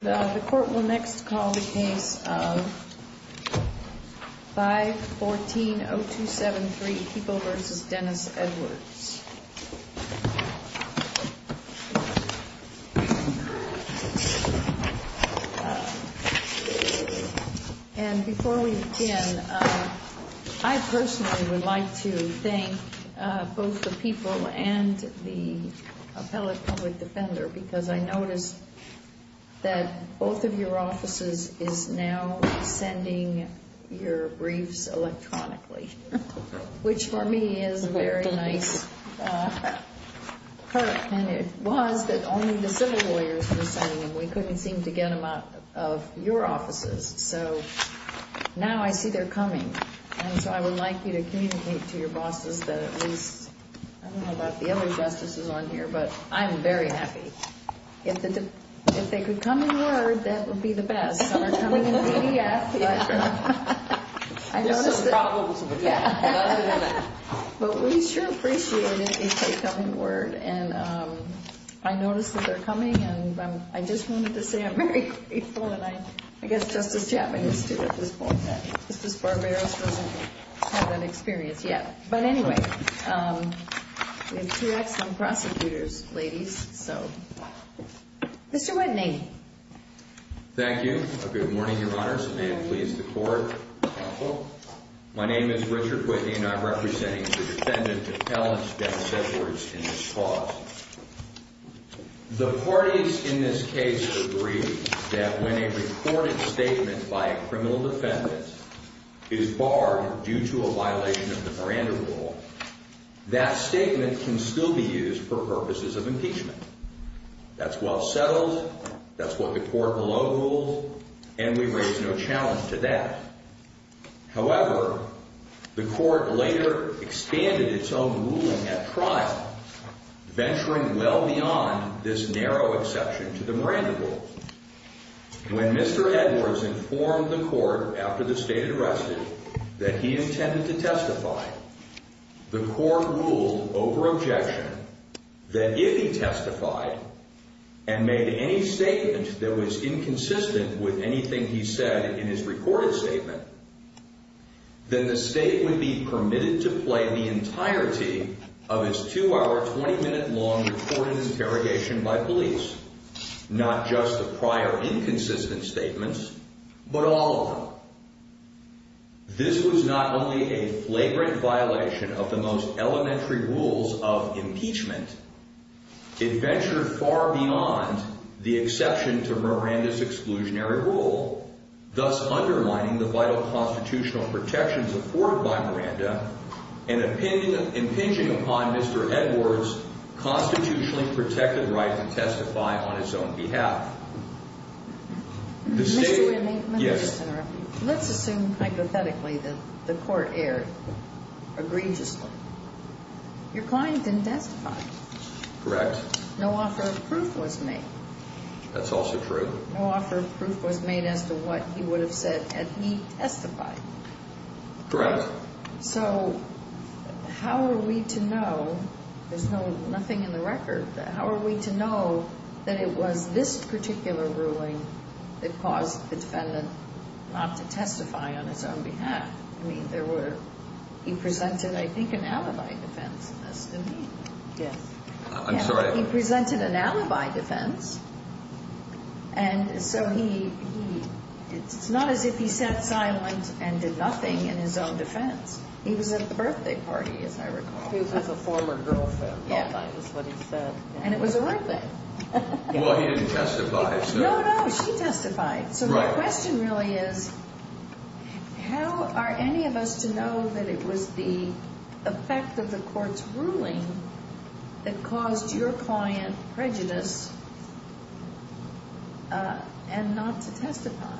The court will next call the case of 514-0273, People v. Dennis Edwards. And before we begin, I personally would like to thank both the people and the appellate public defender because I noticed that both of your offices is now sending your briefs electronically, which for me is a very nice perk. And it was that only the civil lawyers were sending them. We couldn't seem to get them out of your offices. So now I see they're coming. And so I would like you to communicate to your bosses that at least, I don't know about the other justices on here, but I'm very happy. If they could come in word, that would be the best. Some are coming in PDF. There's some problems with that. But we sure appreciate it if they come in word. And I noticed that they're coming, and I just wanted to say I'm very grateful, and I guess Justice Chaffetz is too at this point. Justice Barberos doesn't have that experience yet. But anyway, we have two excellent prosecutors, ladies, so. Mr. Whitney. Thank you. Good morning, Your Honors. May it please the Court. My name is Richard Whitney, and I'm representing the defendant, Ellen Steps Edwards, in this clause. The parties in this case agree that when a recorded statement by a criminal defendant is barred due to a violation of the Miranda Rule, that statement can still be used for purposes of impeachment. That's well settled. That's what the court below rules, and we raise no challenge to that. However, the court later expanded its own ruling at trial, venturing well beyond this narrow exception to the Miranda Rule. When Mr. Edwards informed the court after the state had arrested that he intended to testify, the court ruled over objection that if he testified and made any statement that was inconsistent with anything he said in his recorded statement, then the state would be permitted to play the entirety of its two-hour, 20-minute-long recorded interrogation by police, not just the prior inconsistent statements, but all of them. This was not only a flagrant violation of the most elementary rules of impeachment, it ventured far beyond the exception to Miranda's exclusionary rule, thus underlining the vital constitutional protections afforded by Miranda and impinging upon Mr. Edwards' constitutionally protected right to testify on his own behalf. Mr. Winney, may I just interrupt you? Let's assume hypothetically that the court erred egregiously. Your client didn't testify. Correct. No offer of proof was made. That's also true. No offer of proof was made as to what he would have said had he testified. Correct. So how are we to know? There's nothing in the record. How are we to know that it was this particular ruling that caused the defendant not to testify on his own behalf? I mean, he presented, I think, an alibi defense in this, didn't he? Yes. I'm sorry? He presented an alibi defense, and so it's not as if he sat silent and did nothing in his own defense. He was at the birthday party, as I recall. He was his former girlfriend. That's what he said. And it was a right thing. Well, he didn't testify. No, no, she testified. So my question really is how are any of us to know that it was the effect of the court's ruling that caused your client prejudice and not to testify?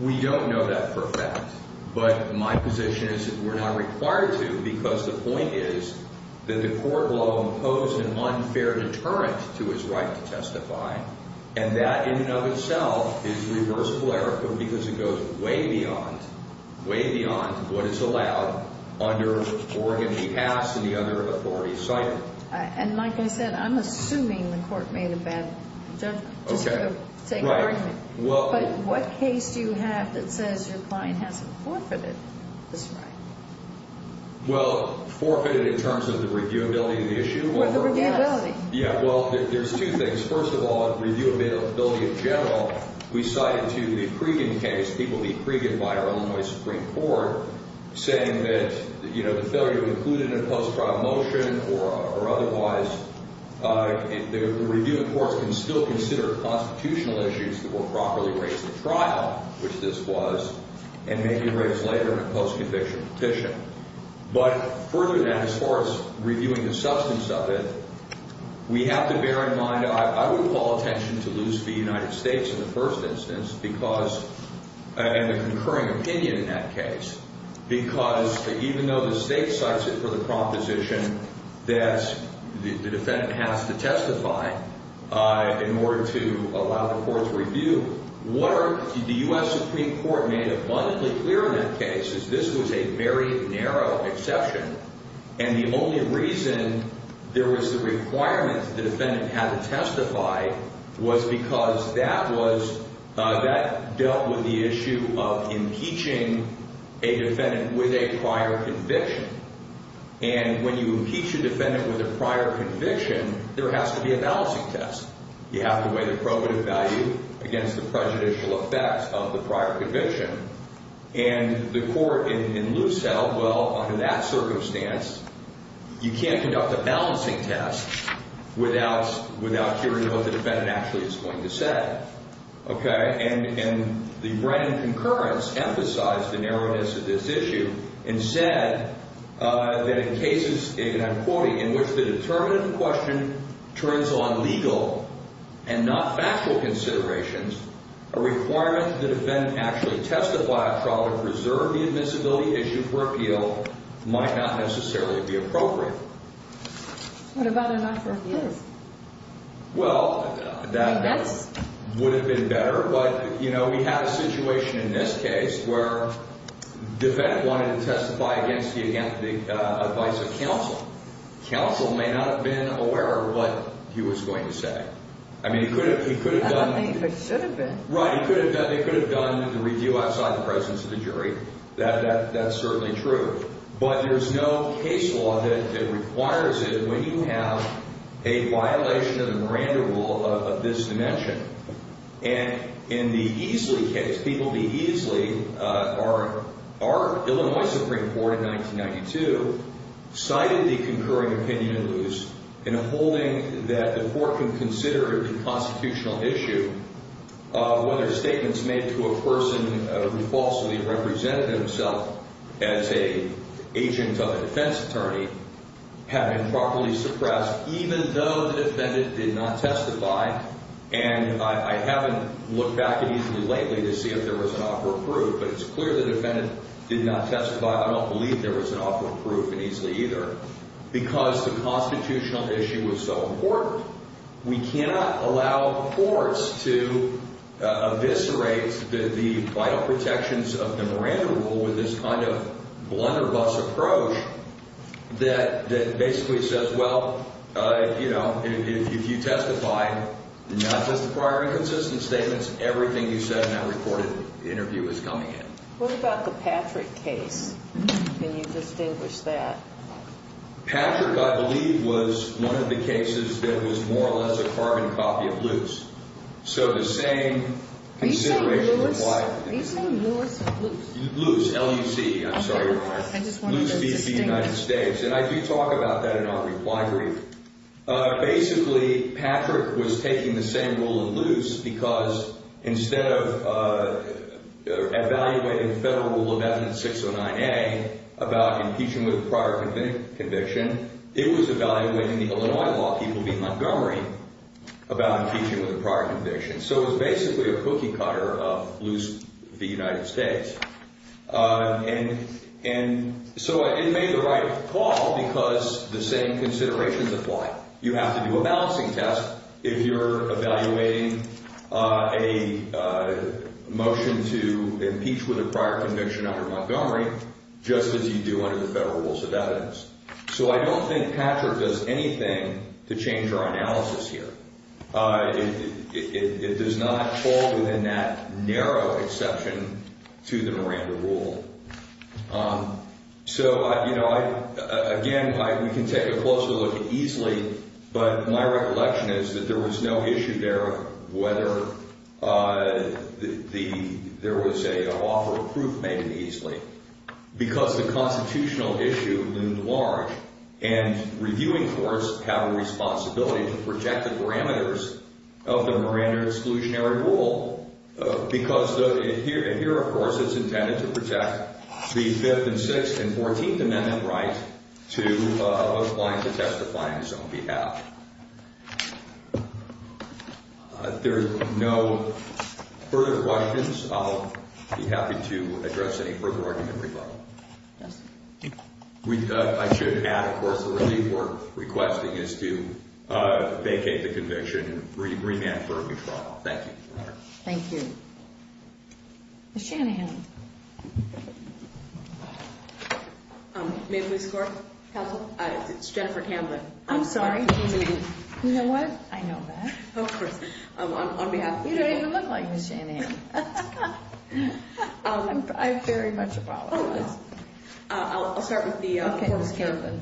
We don't know that for a fact, but my position is that we're not required to because the point is that the court law imposed an unfair deterrent to his right to testify, and that in and of itself is reversible error because it goes way beyond, way beyond what is allowed under Oregon v. Haas and the other authorities cited. And like I said, I'm assuming the court made a bad judgment, just to take argument. Right. But what case do you have that says your client hasn't forfeited this right? Well, forfeited in terms of the reviewability of the issue? The reviewability. Yeah. Well, there's two things. First of all, reviewability in general, we cited to the Cregan case, people meet Cregan by our Illinois Supreme Court, saying that the failure to include it in a post-trial motion or otherwise, the review, of course, can still consider constitutional issues that will properly raise the trial, which this was, and make it raised later in a post-conviction petition. But further than that, as far as reviewing the substance of it, we have to bear in mind, I would call attention to loose v. United States in the first instance because, and the concurring opinion in that case, because even though the state cites it for the proposition, that the defendant has to testify in order to allow the court to review, what the U.S. Supreme Court made abundantly clear in that case is this was a very narrow exception, and the only reason there was the requirement that the defendant had to testify was because that was, that dealt with the issue of impeaching a defendant with a prior conviction. And when you impeach a defendant with a prior conviction, there has to be a balancing test. You have to weigh the probative value against the prejudicial effects of the prior conviction. And the court in loose held, well, under that circumstance, you can't conduct a balancing test without hearing what the defendant actually is going to say. And the Brennan concurrence emphasized the narrowness of this issue and said that in cases, and I'm quoting, in which the determinative question turns on legal and not factual considerations, a requirement that a defendant actually testify a trial to preserve the admissibility issue for appeal might not necessarily be appropriate. What about a not-for-appeal? Well, that would have been better. But, you know, we have a situation in this case where the defendant wanted to testify against the advice of counsel. Counsel may not have been aware of what he was going to say. I mean, he could have done the review outside the presence of the jury. That's certainly true. But there's no case law that requires it when you have a violation of the Miranda Rule of this dimension. And in the Easley case, people in the Easley, our Illinois Supreme Court in 1992, cited the concurring opinion in loose in a holding that the court can consider it a constitutional issue whether statements made to a person who falsely represented himself as an agent of a defense attorney have been properly suppressed even though the defendant did not testify. And I haven't looked back at Easley lately to see if there was an offer of proof, but it's clear the defendant did not testify. I don't believe there was an offer of proof in Easley either because the constitutional issue was so important. We cannot allow courts to eviscerate the vital protections of the Miranda Rule with this kind of blunderbuss approach that basically says, well, you know, if you testified, not just the prior inconsistent statements, everything you said in that reported interview is coming in. What about the Patrick case? Can you distinguish that? Patrick, I believe, was one of the cases that was more or less a carbon copy of loose. So the same consideration required. Are you saying Lewis? Loose. L-U-C. I'm sorry. I just wanted to distinguish. Loose v. United States. And I do talk about that in our reply brief. Basically, Patrick was taking the same rule of loose because instead of evaluating federal rule of evidence 609A about impeaching with a prior conviction, it was evaluating the Illinois law people v. Montgomery about impeaching with a prior conviction. So it was basically a cookie cutter of loose v. United States. And so it made the right call because the same considerations apply. You have to do a balancing test if you're evaluating a motion to impeach with a prior conviction under Montgomery. Just as you do under the federal rules of evidence. So I don't think Patrick does anything to change our analysis here. It does not fall within that narrow exception to the Miranda rule. So, you know, again, we can take a closer look easily. But my recollection is that there was no issue there whether there was an offer of proof made easily. Because the constitutional issue loomed large. And reviewing courts have a responsibility to project the parameters of the Miranda exclusionary rule. Because here, of course, it's intended to protect the 5th and 6th and 14th Amendment right to apply to testify on its own behalf. There are no further questions. I'll be happy to address any further argument regarding that. I should add, of course, the relief we're requesting is to vacate the conviction and remand for a new trial. Thank you. Thank you. Ms. Shanahan. Ma'am, please. It's Jennifer Camden. I'm sorry. You know what? I know that. Of course. On behalf of... You don't even look like Ms. Shanahan. I very much apologize. I'll start with the... Okay, Ms. Camden.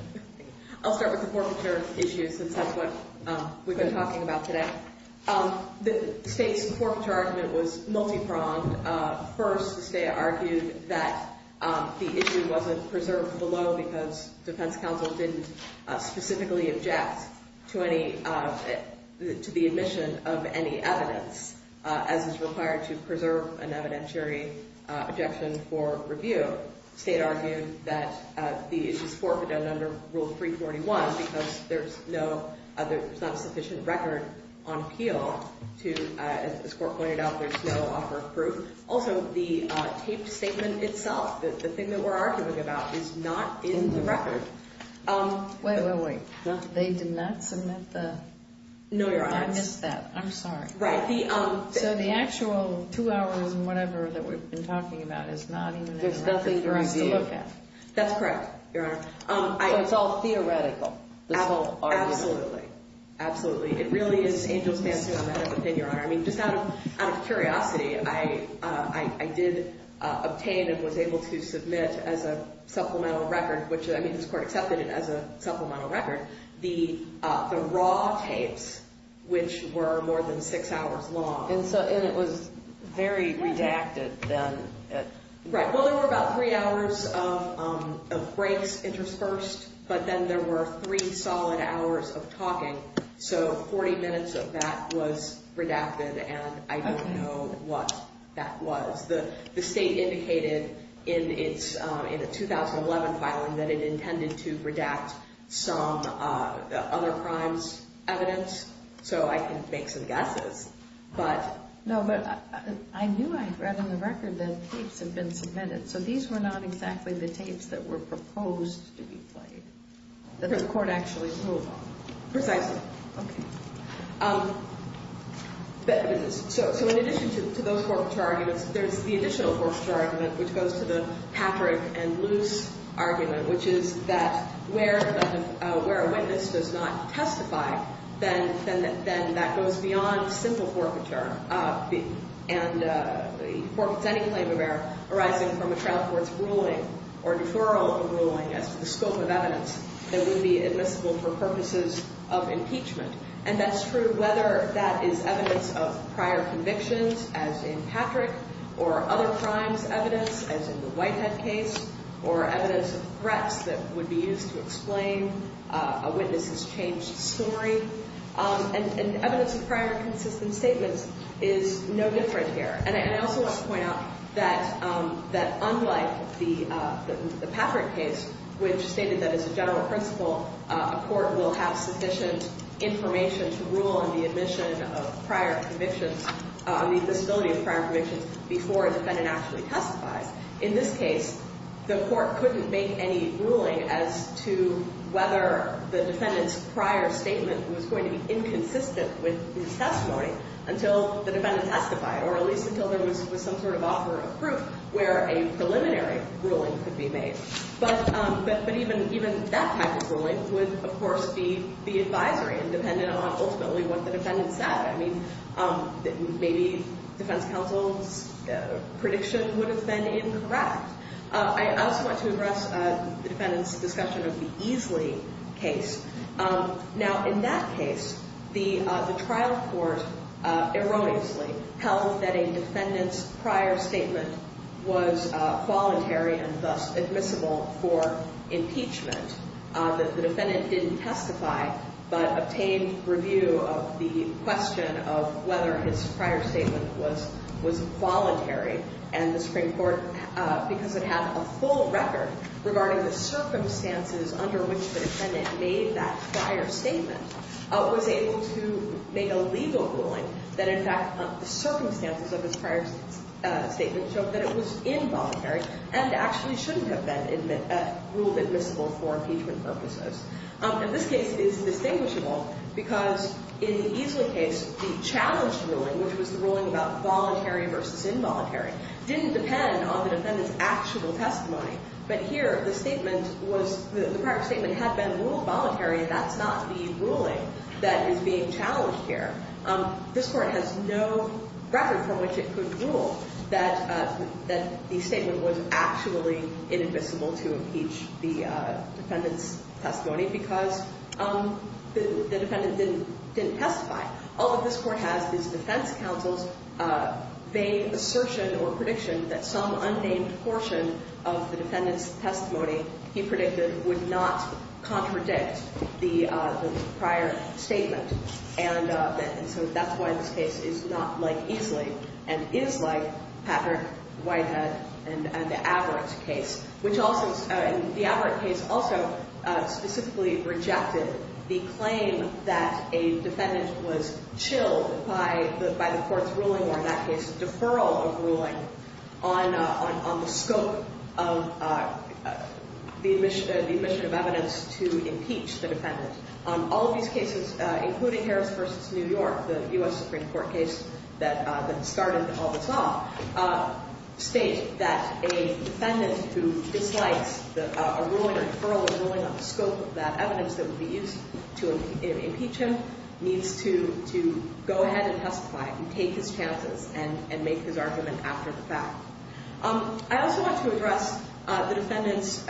I'll start with the forfeiture issue since that's what we've been talking about today. The state's forfeiture argument was multi-pronged. First, the state argued that the issue wasn't preserved below because defense counsel didn't specifically object to the admission of any evidence as is required to preserve an evidentiary objection for review. The state argued that the issue's forfeited under Rule 341 because there's not a sufficient record on appeal. As the court pointed out, there's no offer of proof. Also, the taped statement itself, the thing that we're arguing about, is not in the record. Wait, wait, wait. They did not submit the... No, Your Honor. I missed that. I'm sorry. Right. So the actual two hours and whatever that we've been talking about is not even in the record for us to look at? There's nothing for us to look at. That's correct, Your Honor. So it's all theoretical, this whole argument? Absolutely. Absolutely. It really is angel's dancing in the head of a pin, Your Honor. I mean, just out of curiosity, I did obtain and was able to submit as a supplemental record, which I mean, this court accepted it as a supplemental record, the raw tapes, which were more than six hours long. And it was very redacted then. Right. Well, there were about three hours of breaks interspersed, but then there were three solid hours of talking. So 40 minutes of that was redacted, and I don't know what that was. The state indicated in the 2011 filing that it intended to redact some other crimes evidence, so I can make some guesses. No, but I knew I read on the record that tapes had been submitted, so these were not exactly the tapes that were proposed to be played, that the court actually ruled on. Precisely. Okay. So in addition to those forfeiture arguments, there's the additional forfeiture argument, which goes to the Patrick and Luce argument, which is that where a witness does not testify, then that goes beyond simple forfeiture and forfeits any claim of error arising from a trial court's ruling or deferral of a ruling as to the scope of evidence that would be admissible for purposes of impeachment. And that's true whether that is evidence of prior convictions, as in Patrick, or other crimes evidence, as in the Whitehead case, or evidence of threats that would be used to explain a witness's changed story. And evidence of prior consistent statements is no different here. And I also want to point out that unlike the Patrick case, which stated that as a general principle, a court will have sufficient information to rule on the admission of prior convictions, on the admissibility of prior convictions, before a defendant actually testifies, in this case, the court couldn't make any ruling as to whether the defendant's prior statement was going to be inconsistent with his testimony until the defendant testified, or at least until there was some sort of offer of proof where a preliminary ruling could be made. But even that type of ruling would, of course, be the advisory, independent of ultimately what the defendant said. I mean, maybe defense counsel's prediction would have been incorrect. I also want to address the defendant's discussion of the Easley case. Now, in that case, the trial court erroneously held that a defendant's prior statement was voluntary and thus admissible for impeachment. That the defendant didn't testify, but obtained review of the question of whether his prior statement was voluntary. And the Supreme Court, because it had a full record regarding the circumstances under which the defendant made that prior statement, was able to make a legal ruling that, in fact, the circumstances of his prior statement showed that it was involuntary and actually shouldn't have been ruled admissible for impeachment. And this case is distinguishable because in the Easley case, the challenge ruling, which was the ruling about voluntary versus involuntary, didn't depend on the defendant's actual testimony. But here, the statement was—the prior statement had been ruled voluntary, and that's not the ruling that is being challenged here. This Court has no record from which it could rule that the statement was actually inadmissible to impeach the defendant's testimony because the defendant didn't testify. All that this Court has is defense counsel's vague assertion or prediction that some unnamed portion of the defendant's testimony, he predicted, would not contradict the prior statement. And so that's why this case is not like Easley and is like Patrick, Whitehead, and the Averitt case, which also—and the Averitt case also specifically rejected the claim that a defendant was chilled by the Court's ruling or, in that case, deferral of ruling on the scope of the admission of evidence to impeach the defendant. All of these cases, including Harris v. New York, the U.S. Supreme Court case that started all this off, state that a defendant who dislikes a ruling or deferral of ruling on the scope of that evidence that would be used to impeach him needs to go ahead and testify and take his chances and make his argument after the fact. I also want to address the defendant's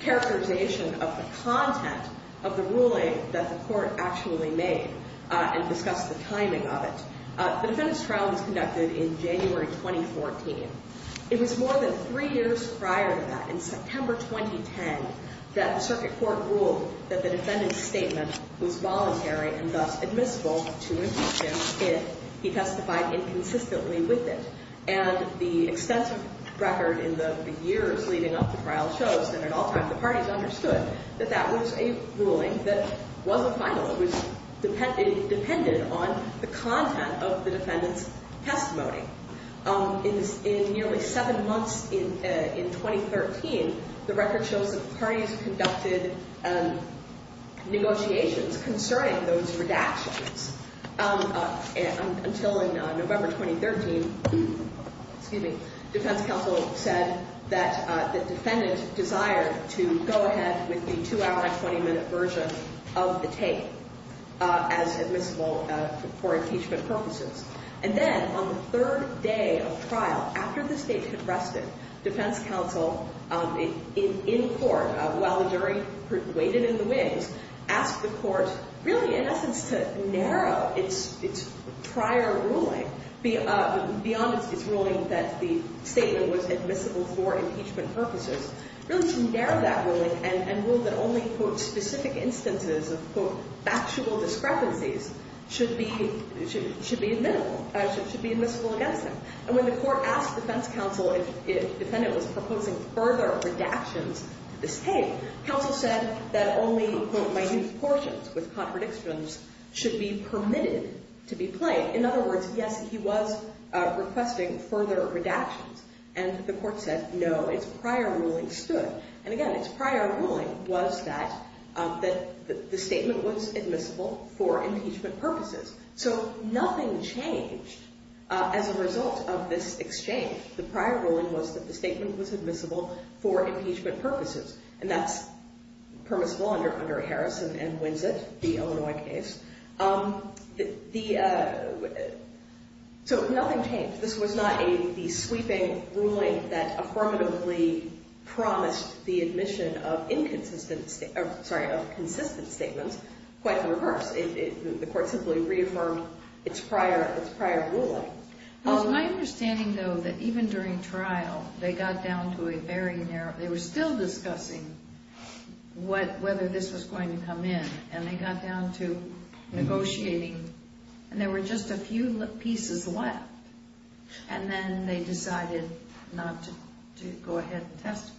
characterization of the content of the ruling that the Court actually made and discuss the timing of it. The defendant's trial was conducted in January 2014. It was more than three years prior to that, in September 2010, that the circuit court ruled that the defendant's statement was voluntary and thus admissible to impeach him if he testified inconsistently with it. And the extensive record in the years leading up to trial shows that at all times the parties understood that that was a ruling that was a finalist, was dependent on the content of the defendant's testimony. In nearly seven months in 2013, the record shows that the parties conducted negotiations concerning those redactions until in November 2013, excuse me, defense counsel said that the defendant desired to go ahead with the two-hour and 20-minute version of the tape as admissible for impeachment purposes. And then on the third day of trial, after the state had rested, defense counsel in court, while the jury waited in the wings, asked the Court really in essence to narrow its prior ruling beyond its ruling that the statement was admissible for impeachment purposes. Really to narrow that ruling and rule that only, quote, specific instances of, quote, factual discrepancies should be admissible against him. And when the Court asked defense counsel if the defendant was proposing further redactions to this tape, counsel said that only, quote, minute portions with contradictions should be permitted to be played. In other words, yes, he was requesting further redactions. And the Court said no, its prior ruling stood. And again, its prior ruling was that the statement was admissible for impeachment purposes. So nothing changed as a result of this exchange. The prior ruling was that the statement was admissible for impeachment purposes. And that's permissible under Harris and Winsett, the Illinois case. So nothing changed. This was not the sweeping ruling that affirmatively promised the admission of inconsistent or, sorry, of consistent statements. Quite the reverse. The Court simply reaffirmed its prior ruling. It was my understanding, though, that even during trial, they got down to a very narrow, they were still discussing whether this was going to come in. And they got down to negotiating. And there were just a few pieces left. And then they decided not to go ahead and testify.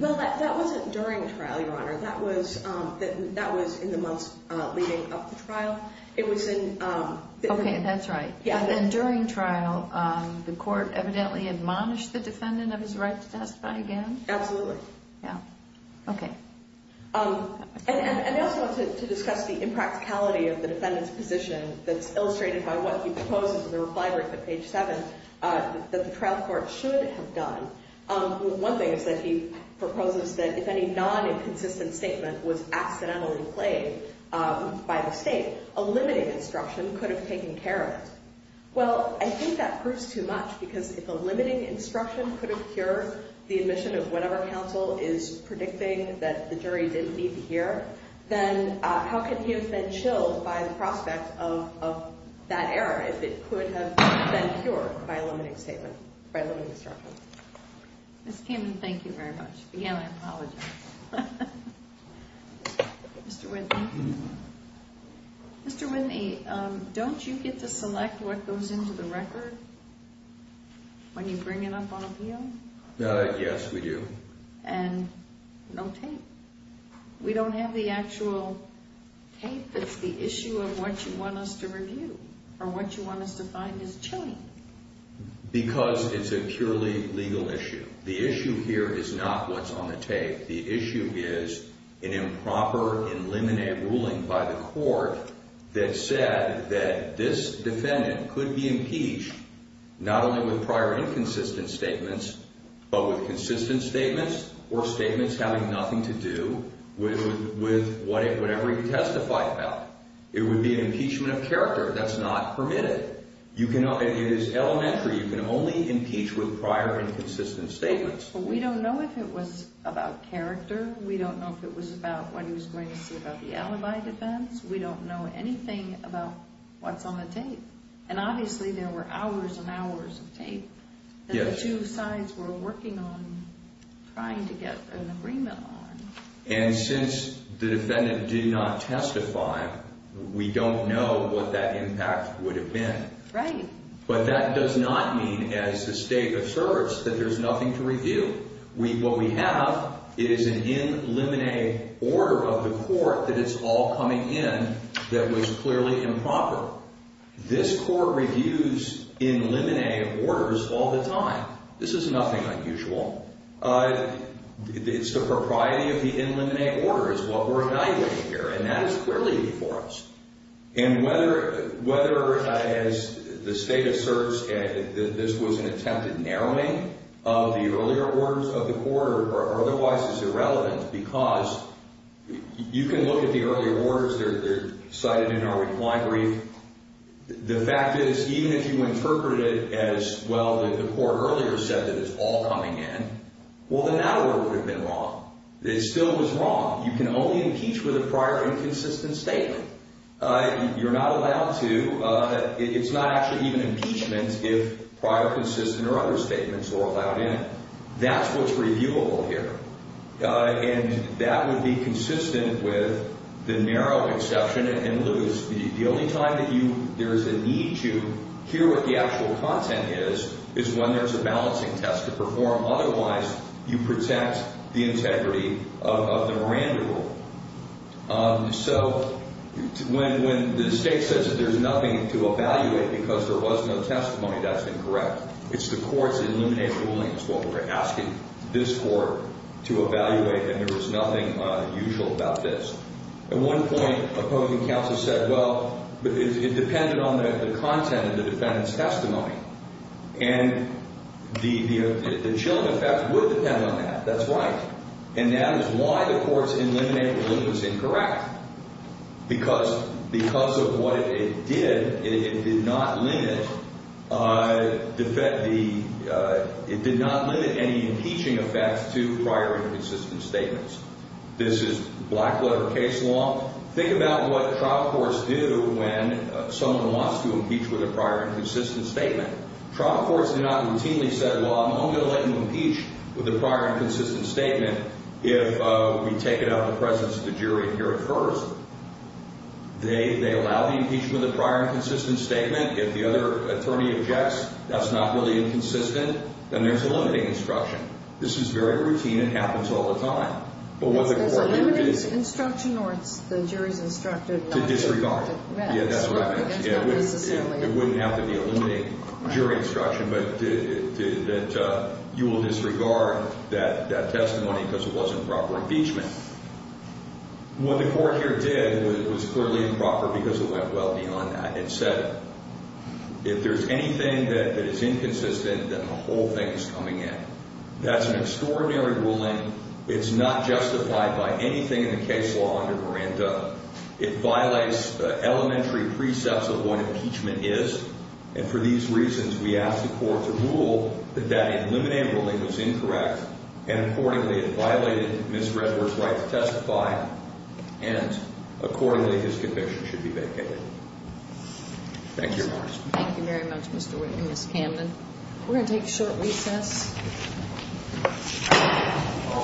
Well, that wasn't during the trial, Your Honor. That was in the months leading up to trial. Okay, that's right. And then during trial, the Court evidently admonished the defendant of his right to testify again? Absolutely. Yeah. Okay. And I also wanted to discuss the impracticality of the defendant's position that's illustrated by what he proposes in the reply brief at page 7 that the trial court should have done. One thing is that he proposes that if any non-inconsistent statement was accidentally played by the State, a limiting instruction could have taken care of it. Well, I think that proves too much because if a limiting instruction could have cured the admission of whatever counsel is predicting that the jury didn't need to hear, then how could he have been chilled by the prospect of that error if it could have been cured by a limiting statement, by a limiting instruction? Ms. Kamen, thank you very much. Again, I apologize. Mr. Whitney? Mr. Whitney, don't you get to select what goes into the record when you bring it up on appeal? Yes, we do. And no tape. We don't have the actual tape that's the issue of what you want us to review or what you want us to find is chilling. Because it's a purely legal issue. The issue here is not what's on the tape. The issue is an improper and limine ruling by the court that said that this defendant could be impeached not only with prior inconsistent statements, but with consistent statements or statements having nothing to do with whatever he testified about. It would be an impeachment of character. That's not permitted. It is elementary. You can only impeach with prior inconsistent statements. But we don't know if it was about character. We don't know if it was about what he was going to say about the alibi defense. We don't know anything about what's on the tape. And obviously there were hours and hours of tape that the two sides were working on trying to get an agreement on. And since the defendant did not testify, we don't know what that impact would have been. Right. But that does not mean as a state of service that there's nothing to review. What we have is an in limine order of the court that it's all coming in that was clearly improper. This court reviews in limine orders all the time. This is nothing unusual. It's the propriety of the in limine order is what we're evaluating here. And that is clearly before us. And whether as the state of service this was an attempted narrowing of the earlier orders of the court or otherwise is irrelevant because you can look at the earlier orders that are cited in our reclined brief. The fact is even if you interpreted it as, well, the court earlier said that it's all coming in. Well, then that order would have been wrong. It still was wrong. You can only impeach with a prior inconsistent statement. You're not allowed to. It's not actually even impeachment if prior consistent or other statements were allowed in. That's what's reviewable here. And that would be consistent with the narrow exception and lose. The only time that there's a need to hear what the actual content is is when there's a balancing test to perform. Otherwise, you protect the integrity of the Miranda rule. So when the state says that there's nothing to evaluate because there was no testimony, that's incorrect. It's the court's in limine ruling is what we're asking this court to evaluate. And there is nothing unusual about this. At one point, opposing counsel said, well, it depended on the content of the defendant's testimony. And the chilling effect would depend on that. That's right. And that is why the court's in limine ruling was incorrect because of what it did. It did not limit any impeaching effects to prior inconsistent statements. This is black-letter case law. Think about what trial courts do when someone wants to impeach with a prior inconsistent statement. Trial courts do not routinely say, well, I'm only going to let you impeach with a prior inconsistent statement if we take it out of the presence of the jury here at first. They allow the impeachment of the prior inconsistent statement. If the other attorney objects, that's not really inconsistent, then there's a limiting instruction. This is very routine. It happens all the time. It's a limiting instruction, or it's the jury's instructed not to. To disregard. That's right. It's not necessarily. It wouldn't have to be a limiting jury instruction, but that you will disregard that testimony because it wasn't proper impeachment. What the court here did was clearly improper because it went well beyond that. It said, if there's anything that is inconsistent, then the whole thing is coming in. That's an extraordinary ruling. It's not justified by anything in the case law under Miranda. It violates the elementary precepts of what impeachment is. And for these reasons, we ask the court to rule that that eliminating ruling was incorrect. And, accordingly, it violated Ms. Redworth's right to testify. And, accordingly, his conviction should be vacated. Thank you, Your Honor. Thank you very much, Mr. Whitley and Ms. Camden. We're going to take a short recess. Thank you.